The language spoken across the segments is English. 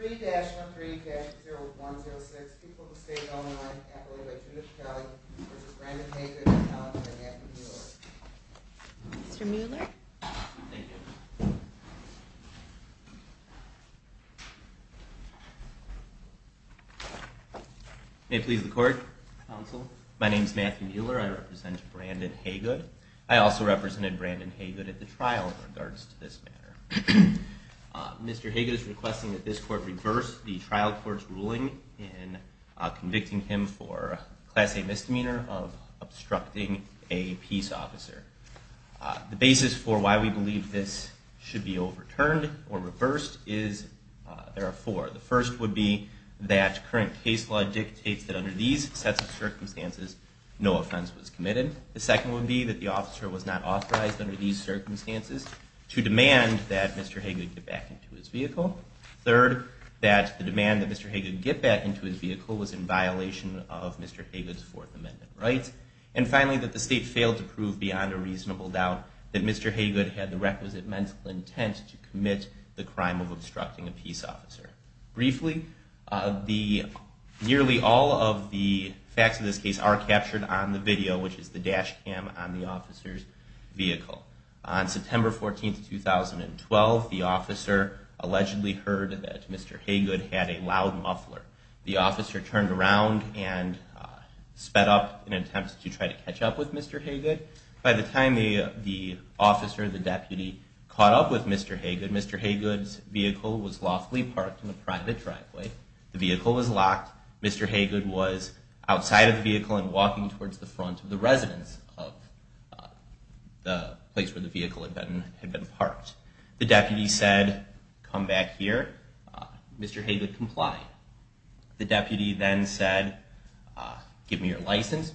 3-13-0106, people who stayed on the line, accoladed by Timothy Kelly v. Brandon Haygood, counseled by Matthew Mueller. Mr. Mueller. Thank you. May it please the court, counsel. My name is Matthew Mueller. I represent Brandon Haygood. I also represented Brandon Haygood at the trial in regards to this matter. Mr. Haygood is requesting that this court reverse the trial court's ruling in convicting him for class A misdemeanor of obstructing a peace officer. The basis for why we believe this should be overturned or reversed is, there are four. The first would be that current case law dictates that under these sets of circumstances, no offense was committed. The second would be that the officer was not authorized under these circumstances to demand that Mr. Haygood get back into his vehicle. Third, that the demand that Mr. Haygood get back into his vehicle was in violation of Mr. Haygood's Fourth Amendment rights. And finally, that the state failed to prove beyond a reasonable doubt that Mr. Haygood had the requisite mental intent to commit the crime of obstructing a peace officer. Briefly, nearly all of the facts of this case are captured on the video, which is the dash cam on the officer's vehicle. On September 14, 2012, the officer allegedly heard that Mr. Haygood had a loud muffler. The officer turned around and sped up in an attempt to try to catch up with Mr. Haygood. By the time the officer, the deputy, caught up with Mr. Haygood, Mr. Haygood's vehicle was lawfully parked in a private driveway. The vehicle was locked. Mr. Haygood was outside of the vehicle and walking towards the front of the residence of the place where the vehicle had been parked. The deputy said, come back here. Mr. Haygood complied. The deputy then said, give me your license.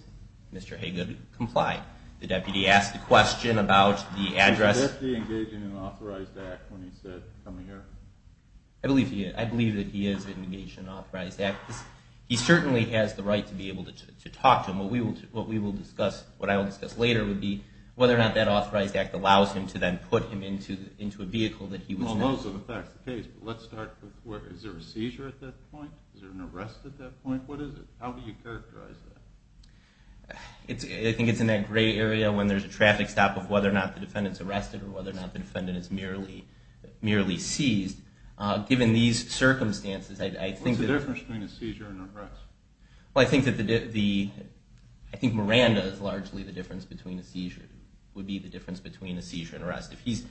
Mr. Haygood complied. The deputy asked a question about the address. Was the deputy engaged in an authorized act when he said, come here? I believe that he is engaged in an authorized act. He certainly has the right to be able to talk to him. What I will discuss later would be whether or not that authorized act allows him to then put him into a vehicle that he was in. Well, those are the facts of the case, but let's start with, is there a seizure at that point? Is there an arrest at that point? What is it? How do you characterize that? I think it's in that gray area when there's a traffic stop of whether or not the defendant's arrested or whether or not the defendant is merely seized. Given these circumstances, I think that- What's the difference between a seizure and arrest? Well, I think Miranda is largely the difference between a seizure, would be the difference between a seizure and arrest. If he's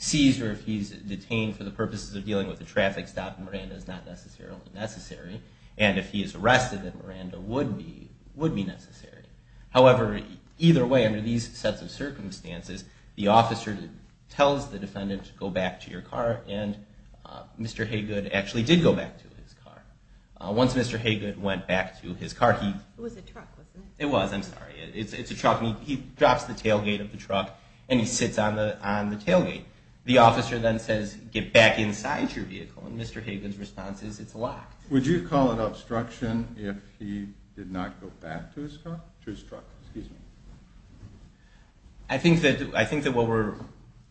seized or if he's detained for the purposes of dealing with a traffic stop, Miranda is not necessarily necessary. And if he is arrested, then Miranda would be necessary. However, either way, under these sets of circumstances, the officer tells the defendant to go back to your car. And Mr. Haygood actually did go back to his car. Once Mr. Haygood went back to his car, he- It was a truck, wasn't it? It was. I'm sorry. It's a truck. He drops the tailgate of the truck, and he sits on the tailgate. The officer then says, get back inside your vehicle. And Mr. Haygood's response is, it's locked. Would you call it obstruction if he did not go back to his truck? I think that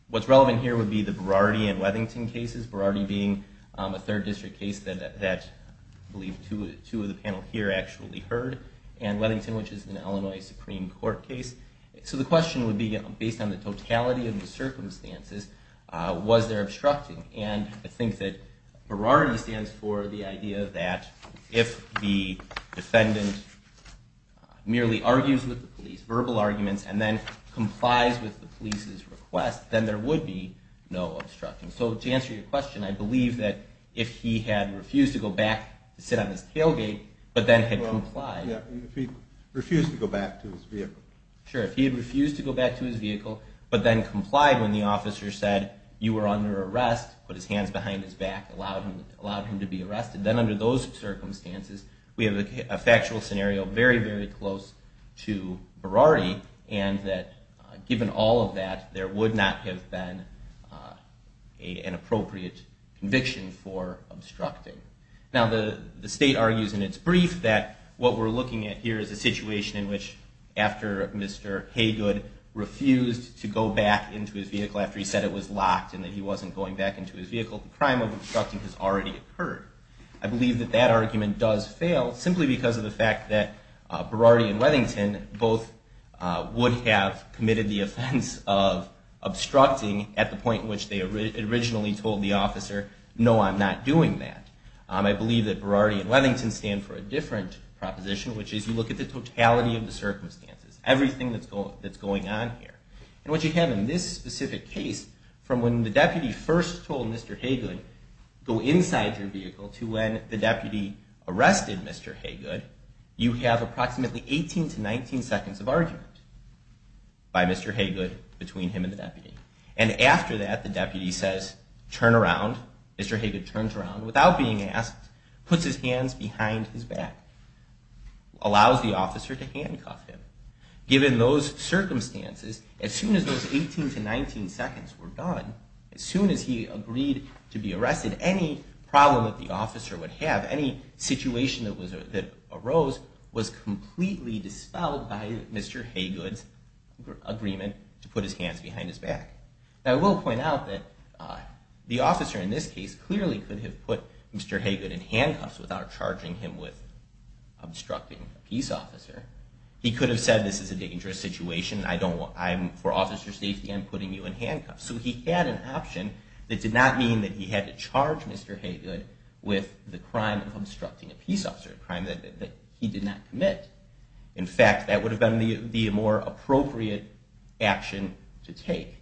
what's relevant here would be the Berardi and Leadington cases. Berardi being a third district case that I believe two of the panel here actually heard. And Leadington, which is an Illinois Supreme Court case. So the question would be, based on the totality of the circumstances, was there obstruction? And I think that Berardi stands for the idea that if the defendant merely argues with the police, verbal arguments, and then complies with the police's request, then there would be no obstruction. So to answer your question, I believe that if he had refused to go back to sit on his tailgate, but then had complied- If he refused to go back to his vehicle. But then complied when the officer said, you were under arrest, put his hands behind his back, allowed him to be arrested. Then under those circumstances, we have a factual scenario very, very close to Berardi. And that given all of that, there would not have been an appropriate conviction for obstructing. Now the state argues in its brief that what we're looking at here is a situation in which, after Mr. Haygood refused to go back into his vehicle after he said it was locked and that he wasn't going back into his vehicle, the crime of obstructing has already occurred. I believe that that argument does fail, simply because of the fact that Berardi and Leadington both would have committed the offense of obstructing at the point in which they originally told the officer, no, I'm not doing that. I believe that Berardi and Leadington stand for a different proposition, which is you look at the totality of the circumstances, everything that's going on here. And what you have in this specific case, from when the deputy first told Mr. Haygood, go inside your vehicle, to when the deputy arrested Mr. Haygood, you have approximately 18 to 19 seconds of argument by Mr. Haygood between him and the deputy. And after that, the deputy says, turn around. Mr. Haygood turns around without being asked, puts his hands behind his back, allows the officer to handcuff him. Given those circumstances, as soon as those 18 to 19 seconds were gone, as soon as he agreed to be arrested, any problem that the officer would have, any situation that arose, was completely dispelled by Mr. Haygood's agreement to put his hands behind his back. Now, I will point out that the officer in this case clearly could have put Mr. Haygood in handcuffs without charging him with obstructing a peace officer. He could have said, this is a dangerous situation. I'm, for officer's safety, I'm putting you in handcuffs. So he had an option that did not mean that he had to charge Mr. Haygood with the crime of obstructing a peace officer, a crime that he did not commit. In fact, that would have been the more appropriate action to take.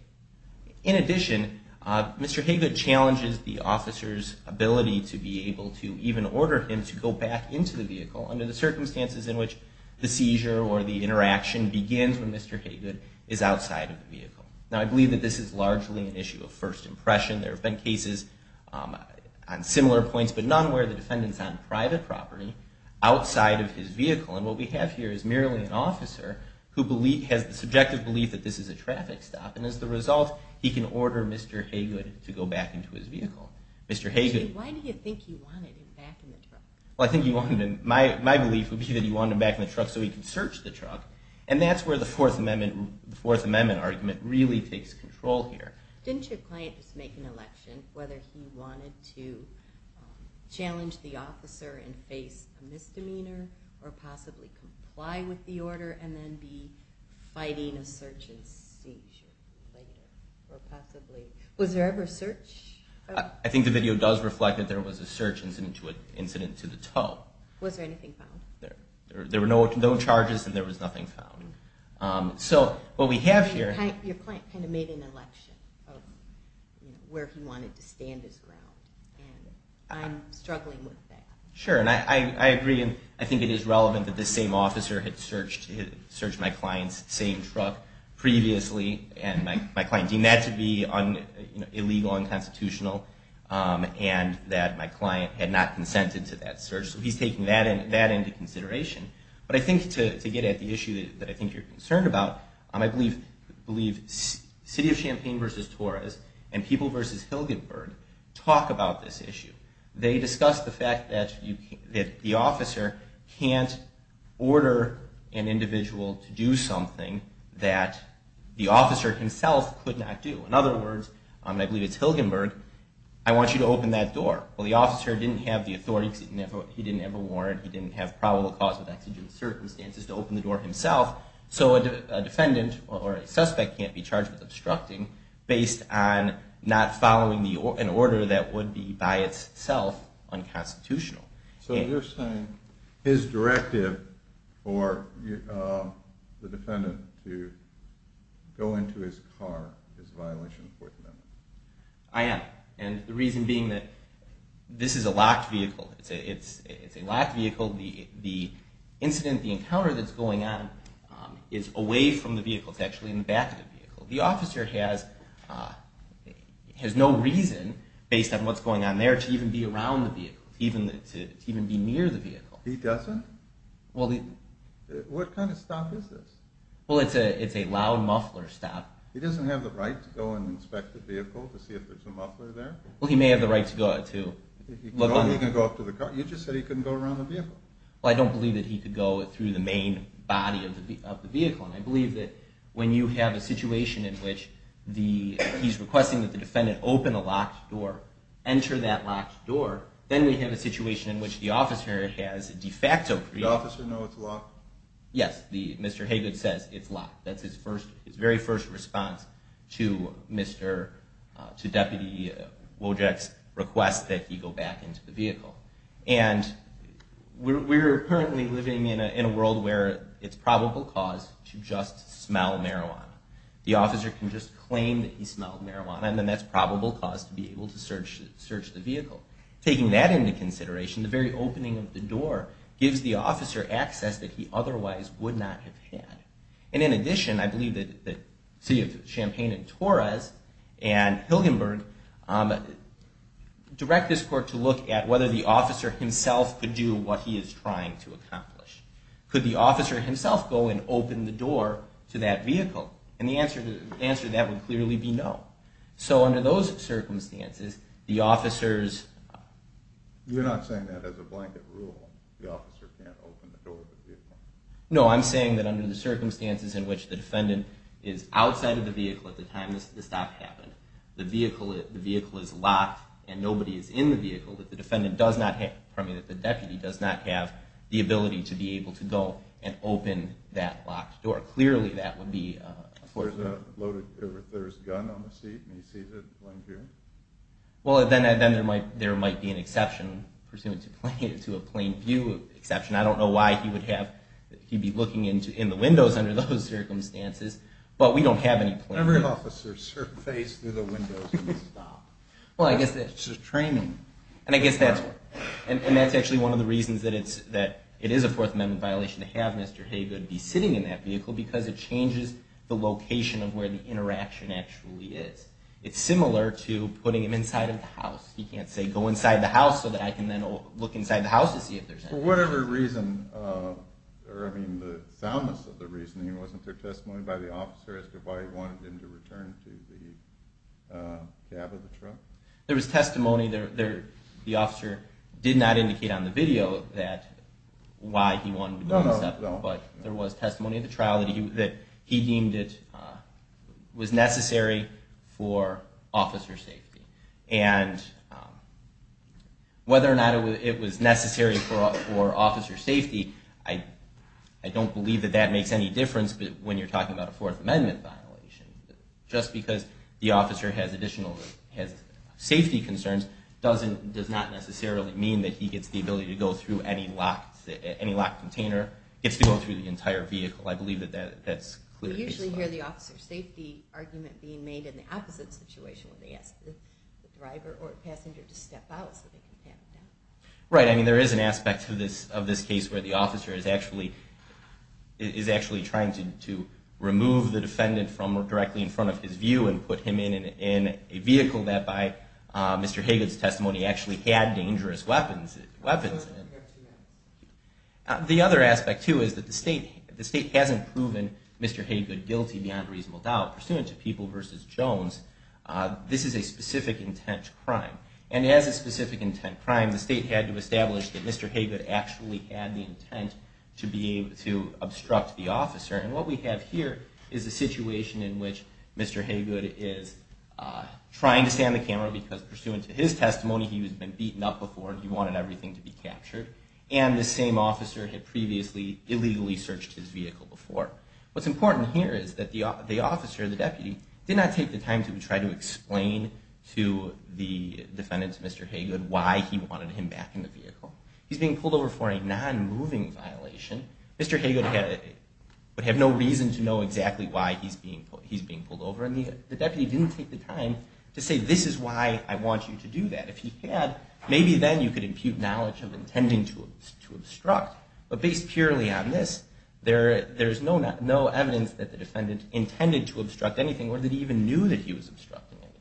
In addition, Mr. Haygood challenges the officer's ability to be able to even order him to go back into the vehicle under the circumstances in which the seizure or the interaction begins when Mr. Haygood is outside of the vehicle. Now, I believe that this is largely an issue of first impression. There have been cases on similar points, but none where the defendant's on private property outside of his vehicle. And what we have here is merely an officer who has the subjective belief that this is a traffic stop. And as the result, he can order Mr. Haygood to go back into his vehicle. Why do you think he wanted him back in the truck? Well, I think he wanted him, my belief would be that he wanted him back in the truck so he could search the truck. And that's where the Fourth Amendment argument really takes control here. Didn't your client just make an election whether he wanted to challenge the officer and face a misdemeanor or possibly comply with the order and then be fighting a search and seizure later? Or possibly, was there ever a search? I think the video does reflect that there was a search incident to the toe. Was there anything found? There were no charges and there was nothing found. So what we have here... Your client kind of made an election of where he wanted to stand his ground. And I'm struggling with that. Sure, and I agree. I think it is relevant that this same officer had searched my client's same truck previously. And my client deemed that to be illegal, unconstitutional. And that my client had not consented to that search. So he's taking that into consideration. But I think to get at the issue that I think you're concerned about, I believe City of Champaign v. Torres and People v. Hilgenberg talk about this issue. They discuss the fact that the officer can't order an individual to do something that the officer himself could not do. In other words, and I believe it's Hilgenberg, I want you to open that door. Well, the officer didn't have the authority. He didn't have a warrant. He didn't have probable cause with exigent circumstances to open the door himself. So a defendant or a suspect can't be charged with obstructing based on not following an order that would be by itself unconstitutional. So you're saying his directive for the defendant to go into his car is a violation of the Fourth Amendment. I am. And the reason being that this is a locked vehicle. It's a locked vehicle. The incident, the encounter that's going on is away from the vehicle. It's actually in the back of the vehicle. The officer has no reason, based on what's going on there, to even be around the vehicle, to even be near the vehicle. He doesn't? What kind of stop is this? Well, it's a loud muffler stop. He doesn't have the right to go and inspect the vehicle to see if there's a muffler there? Well, he may have the right to look on it. He can go up to the car. You just said he couldn't go around the vehicle. Well, I don't believe that he could go through the main body of the vehicle. And I believe that when you have a situation in which he's requesting that the defendant open a locked door, enter that locked door, then we have a situation in which the officer has de facto freedom. Does the officer know it's locked? Yes. Mr. Haygood says it's locked. That's his very first response to Deputy Wojak's request that he go back into the vehicle. And we're currently living in a world where it's probable cause to just smell marijuana. The officer can just claim that he smelled marijuana, and then that's probable cause to be able to search the vehicle. Taking that into consideration, the very opening of the door gives the officer access that he otherwise would not have had. And in addition, I believe that the city of Champaign and Torres and Hilgenberg direct this court to look at whether the officer himself could do what he is trying to accomplish. Could the officer himself go and open the door to that vehicle? And the answer to that would clearly be no. So under those circumstances, the officers... You're not saying that as a blanket rule, the officer can't open the door to the vehicle. No, I'm saying that under the circumstances in which the defendant is outside of the vehicle at the time the stop happened, the vehicle is locked and nobody is in the vehicle, that the defendant does not have... pardon me, that the deputy does not have the ability to be able to go and open that locked door. Clearly, that would be... If there's a gun on the seat and he sees it, like here? Well, then there might be an exception, pursuant to a plain view exception. I don't know why he would have... He'd be looking in the windows under those circumstances, but we don't have any plain view... Every officer's face through the windows at the stop. Well, I guess that's just training. And I guess that's... And that's actually one of the reasons that it is a Fourth Amendment violation to have Mr. Haygood be sitting in that vehicle, because it changes the location of where the interaction actually is. It's similar to putting him inside of the house. He can't say, go inside the house so that I can then look inside the house to see if there's... For whatever reason, or I mean the soundness of the reasoning, wasn't there testimony by the officer as to why he wanted him to return to the cab of the truck? There was testimony there. The officer did not indicate on the video that... No, no, no. But there was testimony at the trial that he deemed it was necessary for officer safety. And whether or not it was necessary for officer safety, I don't believe that that makes any difference when you're talking about a Fourth Amendment violation. Just because the officer has additional safety concerns does not necessarily mean that he gets the ability to go through any locked container, gets to go through the entire vehicle. I believe that that's clearly... We usually hear the officer safety argument being made in the opposite situation when they ask the driver or passenger to step out so they can pan them down. Right, I mean there is an aspect of this case where the officer is actually trying to remove the defendant from directly in front of his view and put him in a vehicle that by Mr. Hagut's testimony actually had dangerous weapons in it. The other aspect too is that the state hasn't proven Mr. Hagut guilty beyond reasonable doubt. Pursuant to People v. Jones, this is a specific intent crime. And as a specific intent crime, the state had to establish that Mr. Hagut actually had the intent to obstruct the officer. And what we have here is a situation in which Mr. Hagut is trying to stay on the camera because pursuant to his testimony he had been beaten up before and he wanted everything to be captured. And the same officer had previously illegally searched his vehicle before. What's important here is that the officer, the deputy, did not take the time to try to explain to the defendant, Mr. Hagut, why he wanted him back in the vehicle. He's being pulled over for a non-moving violation. Mr. Hagut would have no reason to know exactly why he's being pulled over. And the deputy didn't take the time to say, this is why I want you to do that. If he had, maybe then you could impute knowledge of intending to obstruct. But based purely on this, there's no evidence that the defendant intended to obstruct anything or that he even knew that he was obstructing anything.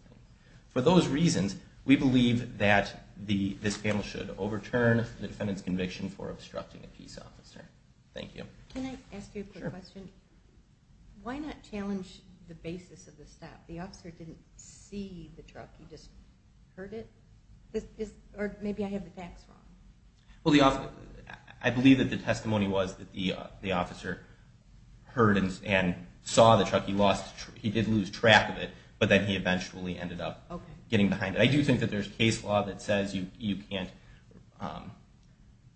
For those reasons, we believe that this panel should overturn the defendant's conviction for obstructing a peace officer. Thank you. Can I ask you a quick question? Why not challenge the basis of the stop? The officer didn't see the truck, he just heard it? Or maybe I have the facts wrong. I believe that the testimony was that the officer heard and saw the truck. He did lose track of it, but then he eventually ended up getting behind it. I do think that there's case law that says you can't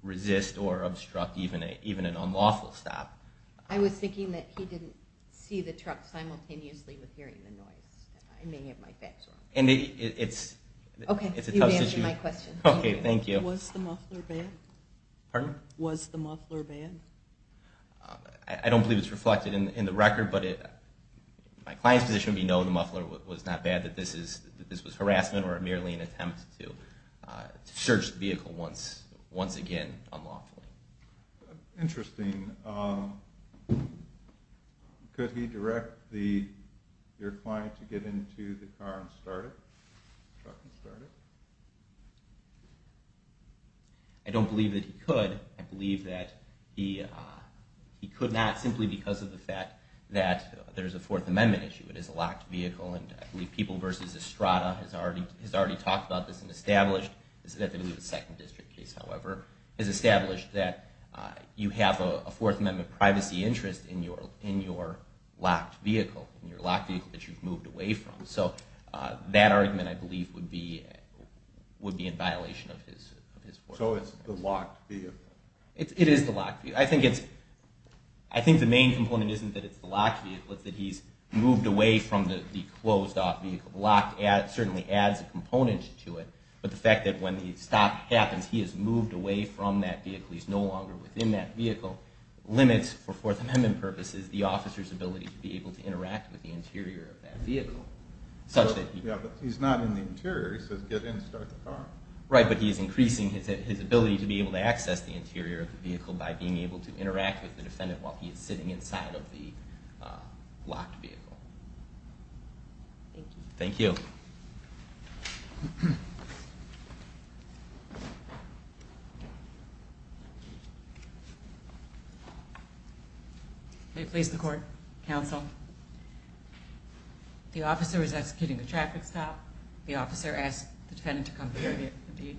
resist or obstruct even an unlawful stop. I was thinking that he didn't see the truck simultaneously with hearing the noise. I may have my facts wrong. Okay, you've answered my question. Okay, thank you. Was the muffler bad? I don't believe it's reflected in the record, but my client's position would be no, the muffler was not bad, that this was harassment or merely an attempt to search the vehicle once again unlawfully. Interesting. Could he direct your client to get into the car and start it? I don't believe that he could. I believe that he could not simply because of the fact that there's a Fourth Amendment issue. It is a locked vehicle, and I believe People v. Estrada has already talked about this and established that you have a Fourth Amendment privacy interest in your locked vehicle, in your locked vehicle that you've moved away from. So that argument, I believe, would be in violation of his Fourth Amendment. So it's the locked vehicle. It is the locked vehicle. I think the main component isn't that it's the locked vehicle. It's that he's moved away from the closed-off vehicle. Locked certainly adds a component to it, but the fact that when the stop happens, he is moved away from that vehicle, he's no longer within that vehicle, limits, for Fourth Amendment purposes, the officer's ability to be able to interact with the interior of that vehicle. Yeah, but he's not in the interior. He says get in and start the car. Right, but he is increasing his ability to be able to access the interior of the vehicle by being able to interact with the defendant while he is sitting inside of the locked vehicle. Thank you. Thank you. May it please the Court, Counsel. The officer is executing a traffic stop. The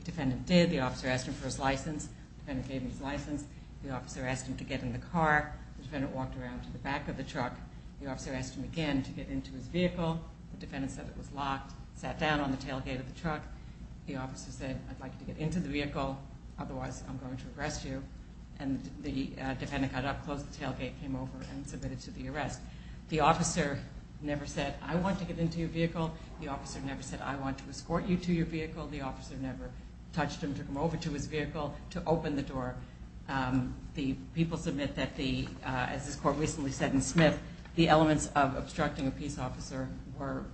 defendant did. The officer asked him for his license. The defendant gave him his license. The officer asked him to get in the car. The defendant walked around to the back of the truck. The officer asked him again to get into his vehicle. The defendant said it was locked, sat down on the tailgate of the truck. The officer said, I'd like you to get into the vehicle. Otherwise, I'm going to arrest you. And the defendant got up, closed the tailgate, came over, and submitted to the arrest. The officer never said, I want to get into your vehicle. The officer never said, I want to escort you to your vehicle. The officer never touched him, took him over to his vehicle to open the door. The people submit that the, as this Court recently said in Smith, the elements of obstructing a peace officer were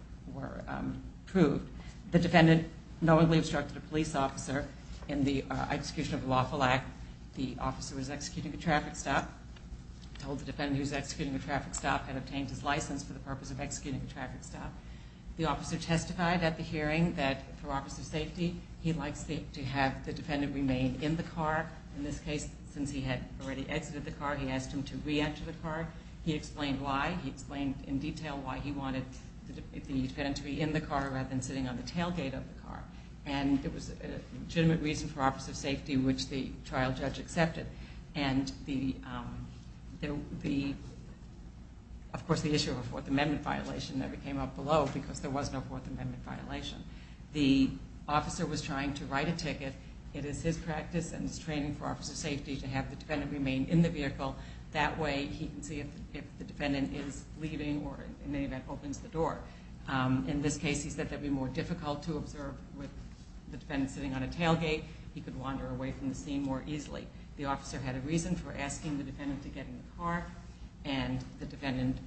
proved. The defendant knowingly obstructed a police officer in the execution of a lawful act. The officer was executing a traffic stop, told the defendant he was executing a traffic stop, had obtained his license for the purpose of executing a traffic stop. The officer testified at the hearing that for office of safety, he likes to have the defendant remain in the car. In this case, since he had already exited the car, he asked him to re-enter the car. He explained why. He explained in detail why he wanted the defendant to be in the car rather than sitting on the tailgate of the car. And it was a legitimate reason for office of safety, which the trial judge accepted. And the, of course, the issue of a Fourth Amendment violation never came up below because there was no Fourth Amendment violation. The officer was trying to write a ticket. It is his practice and his training for office of safety to have the defendant remain in the vehicle. That way, he can see if the defendant is leaving or, in any event, opens the door. In this case, he said that it would be more difficult to observe with the defendant sitting on a tailgate. He could wander away from the scene more easily. The officer had a reason for asking the defendant to get in the car, and the defendant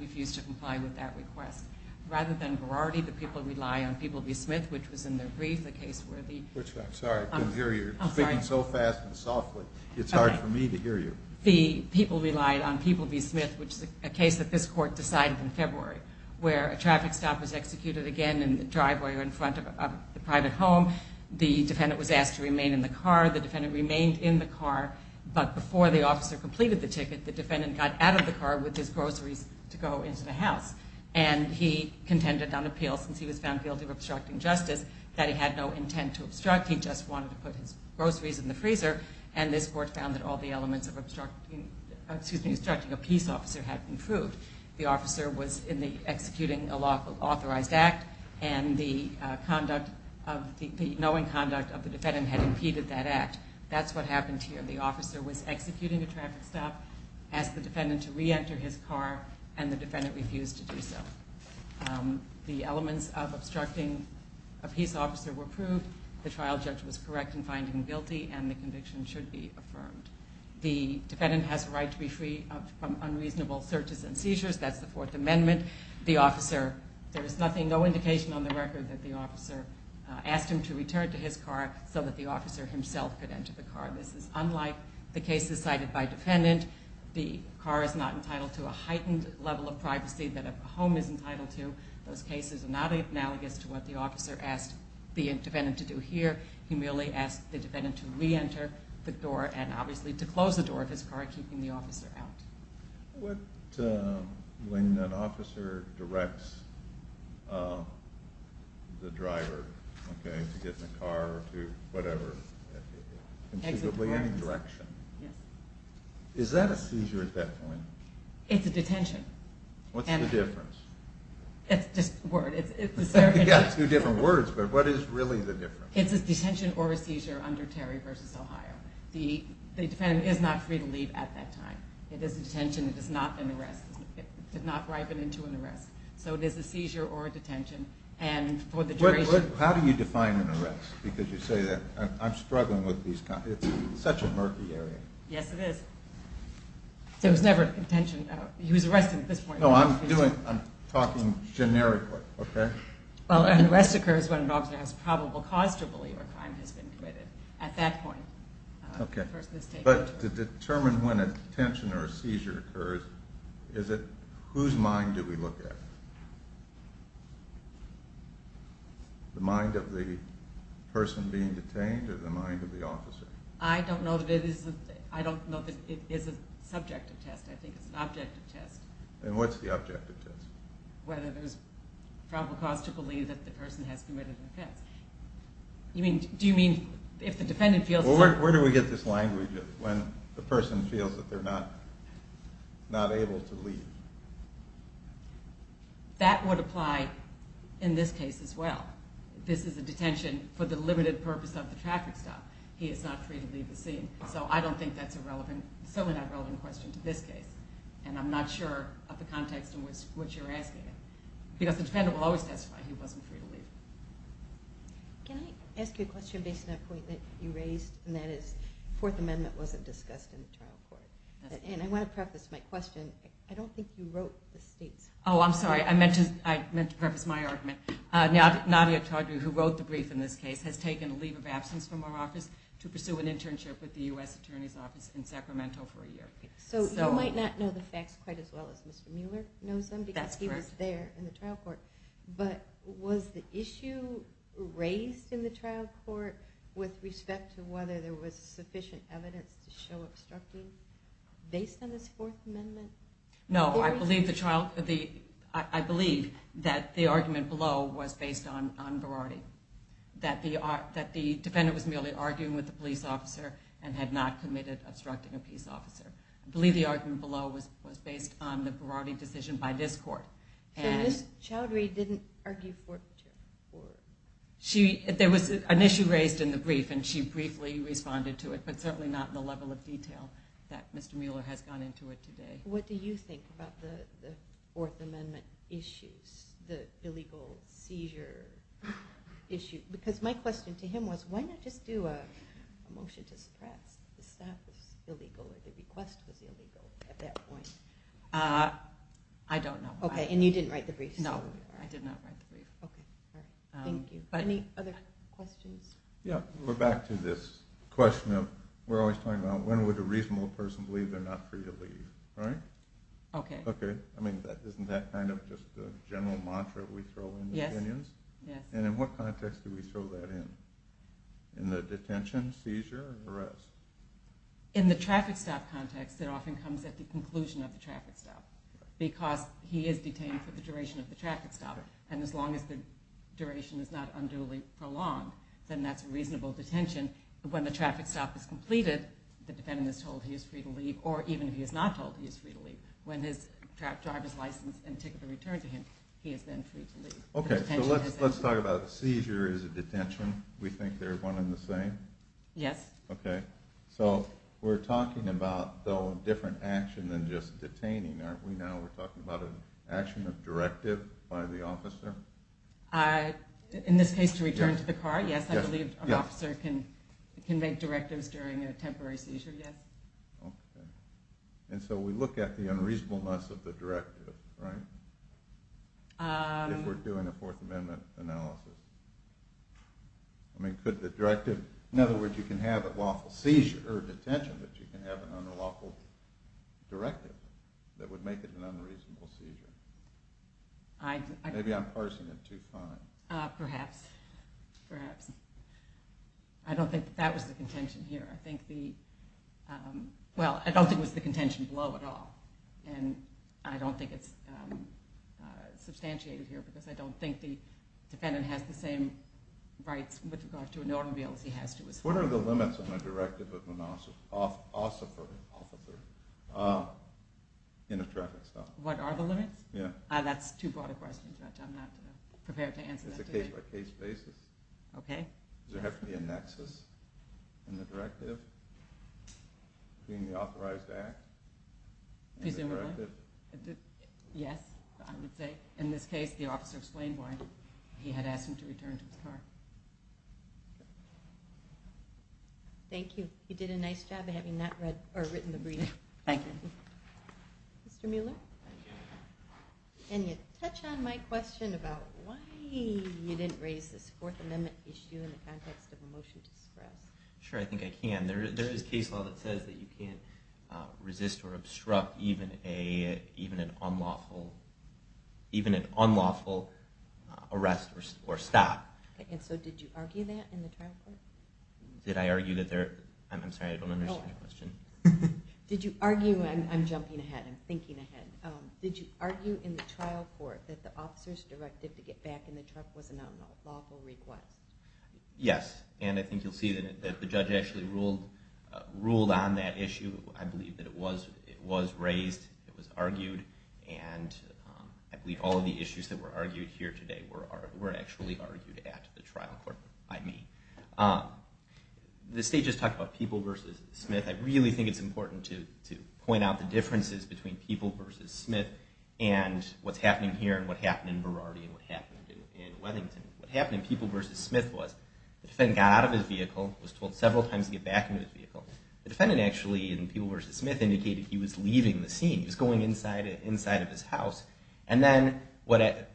refused to comply with that request. Rather than Variety, the people rely on People v. Smith, which was in their brief, the case where the- I'm sorry, I couldn't hear you. You're speaking so fast and softly. It's hard for me to hear you. The people relied on People v. Smith, which is a case that this court decided in February, where a traffic stop was executed again in the driveway or in front of the private home. The defendant was asked to remain in the car. The defendant remained in the car, but before the officer completed the ticket, the defendant got out of the car with his groceries to go into the house, and he contended on appeal, since he was found guilty of obstructing justice, that he had no intent to obstruct. He just wanted to put his groceries in the freezer, and this court found that all the elements of obstructing a peace officer had improved. The officer was in the executing an authorized act, and the knowing conduct of the defendant had impeded that act. That's what happened here. The officer was executing a traffic stop, asked the defendant to reenter his car, and the defendant refused to do so. The elements of obstructing a peace officer were proved. The trial judge was correct in finding him guilty, and the conviction should be affirmed. The defendant has the right to be free from unreasonable searches and seizures. That's the Fourth Amendment. There is no indication on the record that the officer asked him to return to his car so that the officer himself could enter the car. This is unlike the cases cited by defendant. The car is not entitled to a heightened level of privacy that a home is entitled to. Those cases are not analogous to what the officer asked the defendant to do here. He merely asked the defendant to reenter the door and obviously to close the door of his car, keeping the officer out. When an officer directs the driver to get in the car or to whatever, considerably any direction, is that a seizure at that point? It's a detention. What's the difference? It's just a word. It's two different words, but what is really the difference? It's a detention or a seizure under Terry v. Ohio. The defendant is not free to leave at that time. It is a detention. It is not an arrest. It did not ripen into an arrest. So it is a seizure or a detention. How do you define an arrest? Because you say that I'm struggling with these kinds. It's such a murky area. Yes, it is. There was never a detention. He was arrested at this point. No, I'm talking generically, okay? Well, an arrest occurs when an officer has probable cause to believe a crime has been committed. At that point, the person is taken. But to determine when a detention or a seizure occurs, whose mind do we look at? The mind of the person being detained or the mind of the officer? I don't know that it is a subjective test. I think it's an objective test. And what's the objective test? Whether there's probable cause to believe that the person has committed an offense. Do you mean if the defendant feels certain? Where do we get this language when the person feels that they're not able to leave? That would apply in this case as well. This is a detention for the limited purpose of the traffic stop. He is not free to leave the scene. So I don't think that's a relevant, certainly not relevant question to this case. And I'm not sure of the context in which you're asking it. Because the defendant will always testify he wasn't free to leave. Can I ask you a question based on a point that you raised? And that is the Fourth Amendment wasn't discussed in the trial court. And I want to preface my question. I don't think you wrote the state's... Oh, I'm sorry. I meant to preface my argument. Nadia Chaudry, who wrote the brief in this case, has taken a leave of absence from our office to pursue an internship with the U.S. Attorney's Office in Sacramento for a year. So you might not know the facts quite as well as Mr. Mueller knows them, because he was there in the trial court. But was the issue raised in the trial court with respect to whether there was sufficient evidence to show obstructing based on this Fourth Amendment? No. I believe that the argument below was based on variety. That the defendant was merely arguing with the police officer and had not committed obstructing a peace officer. I believe the argument below was based on the variety decision by this court. So Ms. Chaudry didn't argue for... There was an issue raised in the brief, and she briefly responded to it, but certainly not in the level of detail that Mr. Mueller has gone into it today. What do you think about the Fourth Amendment issues, the illegal seizure issue? Because my question to him was, why not just do a motion to suppress? The request was illegal at that point. I don't know. Okay, and you didn't write the brief? No, I did not write the brief. Okay, thank you. Any other questions? Yeah, we're back to this question of we're always talking about when would a reasonable person believe they're not free to leave, right? Okay. Okay. I mean, isn't that kind of just a general mantra we throw in opinions? Yes. And in what context do we throw that in? In the detention, seizure, and arrest? In the traffic stop context, it often comes at the conclusion of the traffic stop, because he is detained for the duration of the traffic stop, and as long as the duration is not unduly prolonged, then that's a reasonable detention. When the traffic stop is completed, the defendant is told he is free to leave, or even if he is not told, he is free to leave. When his driver's license and ticket are returned to him, he is then free to leave. Okay, so let's talk about a seizure is a detention. We think they're one and the same? Yes. Okay. So we're talking about, though, a different action than just detaining, aren't we? Now we're talking about an action of directive by the officer? In this case, to return to the car, yes. I believe an officer can make directives during a temporary seizure, yes. Okay. And so we look at the unreasonableness of the directive, right? If we're doing a Fourth Amendment analysis. I mean, could the directive, in other words, you can have a lawful seizure or detention, but you can have an unlawful directive that would make it an unreasonable seizure. Maybe I'm parsing it too fine. Perhaps, perhaps. I don't think that that was the contention here. I think the, well, I don't think it was the contention below at all, and I don't think it's substantiated here, because I don't think the defendant has the same rights with regard to an automobile as he has to a seizure. What are the limits on a directive of an officer in a traffic stop? What are the limits? Yeah. That's too broad a question, Judge. I'm not prepared to answer that today. It's a case-by-case basis. Okay. Does there have to be a nexus in the directive between the authorized act and the directive? Presumably. Yes, I would say. In this case, the officer explained why he had asked him to return to his car. Thank you. You did a nice job of having not read or written the brief. Thank you. Mr. Mueller? Thank you. Can you touch on my question about why you didn't raise this Fourth Amendment issue in the context of a motion to suppress? Sure, I think I can. There is case law that says that you can't resist or obstruct even an unlawful arrest or stop. And so did you argue that in the trial court? Did I argue that there – I'm sorry, I don't understand your question. Did you argue – I'm jumping ahead, I'm thinking ahead. Did you argue in the trial court that the officer's directive to get back in the truck was an unlawful request? Yes, and I think you'll see that the judge actually ruled on that issue. I believe that it was raised, it was argued, and I believe all of the issues that were argued here today were actually argued at the trial court by me. The state just talked about People v. Smith. I really think it's important to point out the differences between People v. Smith and what's happening here and what happened in Variety and what happened in Weddington. What happened in People v. Smith was the defendant got out of his vehicle, was told several times to get back into his vehicle. The defendant actually, in People v. Smith, indicated he was leaving the scene. He was going inside of his house. And then the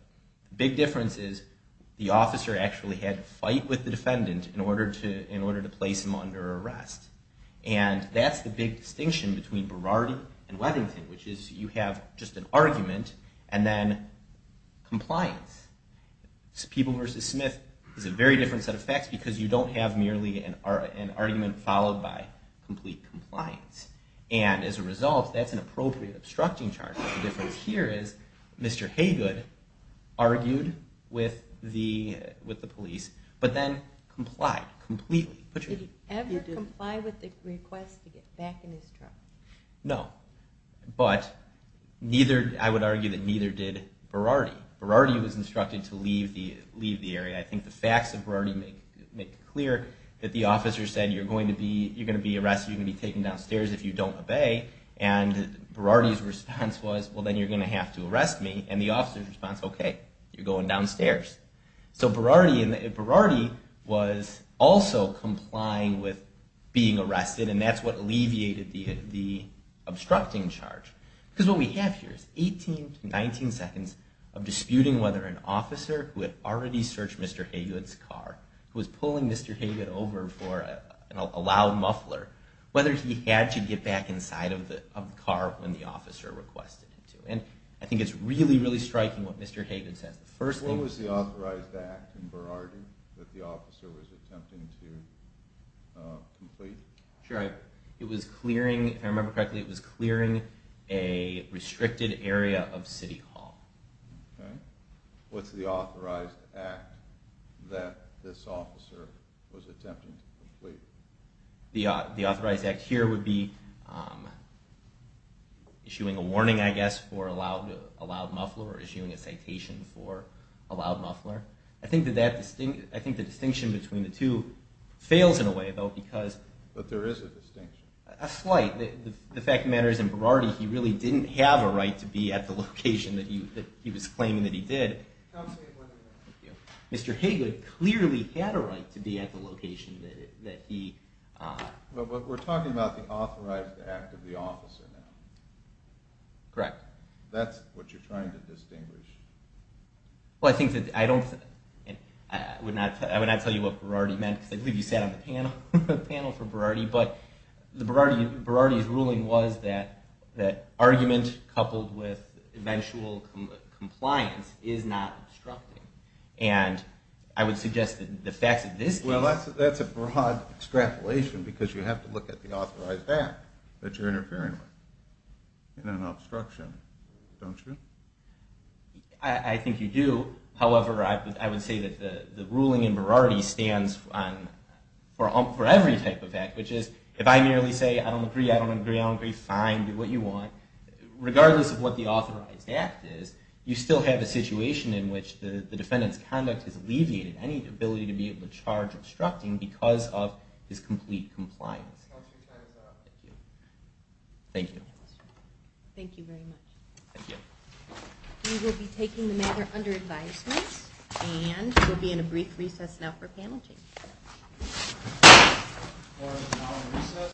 big difference is the officer actually had to fight with the defendant in order to place him under arrest. And that's the big distinction between Variety and Weddington, which is you have just an argument and then compliance. People v. Smith is a very different set of facts because you don't have merely an argument followed by complete compliance. And as a result, that's an appropriate obstructing charge. The difference here is Mr. Haygood argued with the police but then complied completely. Did he ever comply with the request to get back in his truck? No, but I would argue that neither did Variety. Variety was instructed to leave the area. I think the facts of Variety make it clear that the officer said, you're going to be arrested, you're going to be taken downstairs if you don't obey. And Variety's response was, well, then you're going to have to arrest me. And the officer's response, okay, you're going downstairs. So Variety was also complying with being arrested, and that's what alleviated the obstructing charge. Because what we have here is 18 to 19 seconds of disputing whether an officer who had already searched Mr. Haygood's car, who was pulling Mr. Haygood over for a loud muffler, whether he had to get back inside of the car when the officer requested it to. And I think it's really, really striking what Mr. Haygood says. What was the authorized act in Variety that the officer was attempting to complete? If I remember correctly, it was clearing a restricted area of City Hall. What's the authorized act that this officer was attempting to complete? The authorized act here would be issuing a warning, I guess, for a loud muffler or issuing a citation for a loud muffler. I think the distinction between the two fails in a way, though, because... But there is a distinction. A slight. The fact of the matter is, in Variety, he really didn't have a right to be at the location that he was claiming that he did. Mr. Haygood clearly had a right to be at the location that he... But we're talking about the authorized act of the officer now. Correct. That's what you're trying to distinguish. Well, I think that I don't... I would not tell you what Variety meant, because I believe you sat on the panel for Variety. But Variety's ruling was that argument coupled with eventual compliance is not obstructing. And I would suggest that the facts of this case... Well, that's a broad extrapolation, because you have to look at the authorized act that you're interfering with. And an obstruction, don't you? I think you do. However, I would say that the ruling in Variety stands for every type of act, which is, if I merely say, I don't agree, I don't agree, I don't agree, fine, do what you want. Regardless of what the authorized act is, you still have a situation in which the defendant's conduct has alleviated any ability to be able to charge obstructing because of his complete compliance. Thank you. Thank you. Thank you very much. Thank you. We will be taking the matter under advisement, and we'll be in a brief recess now for panel change.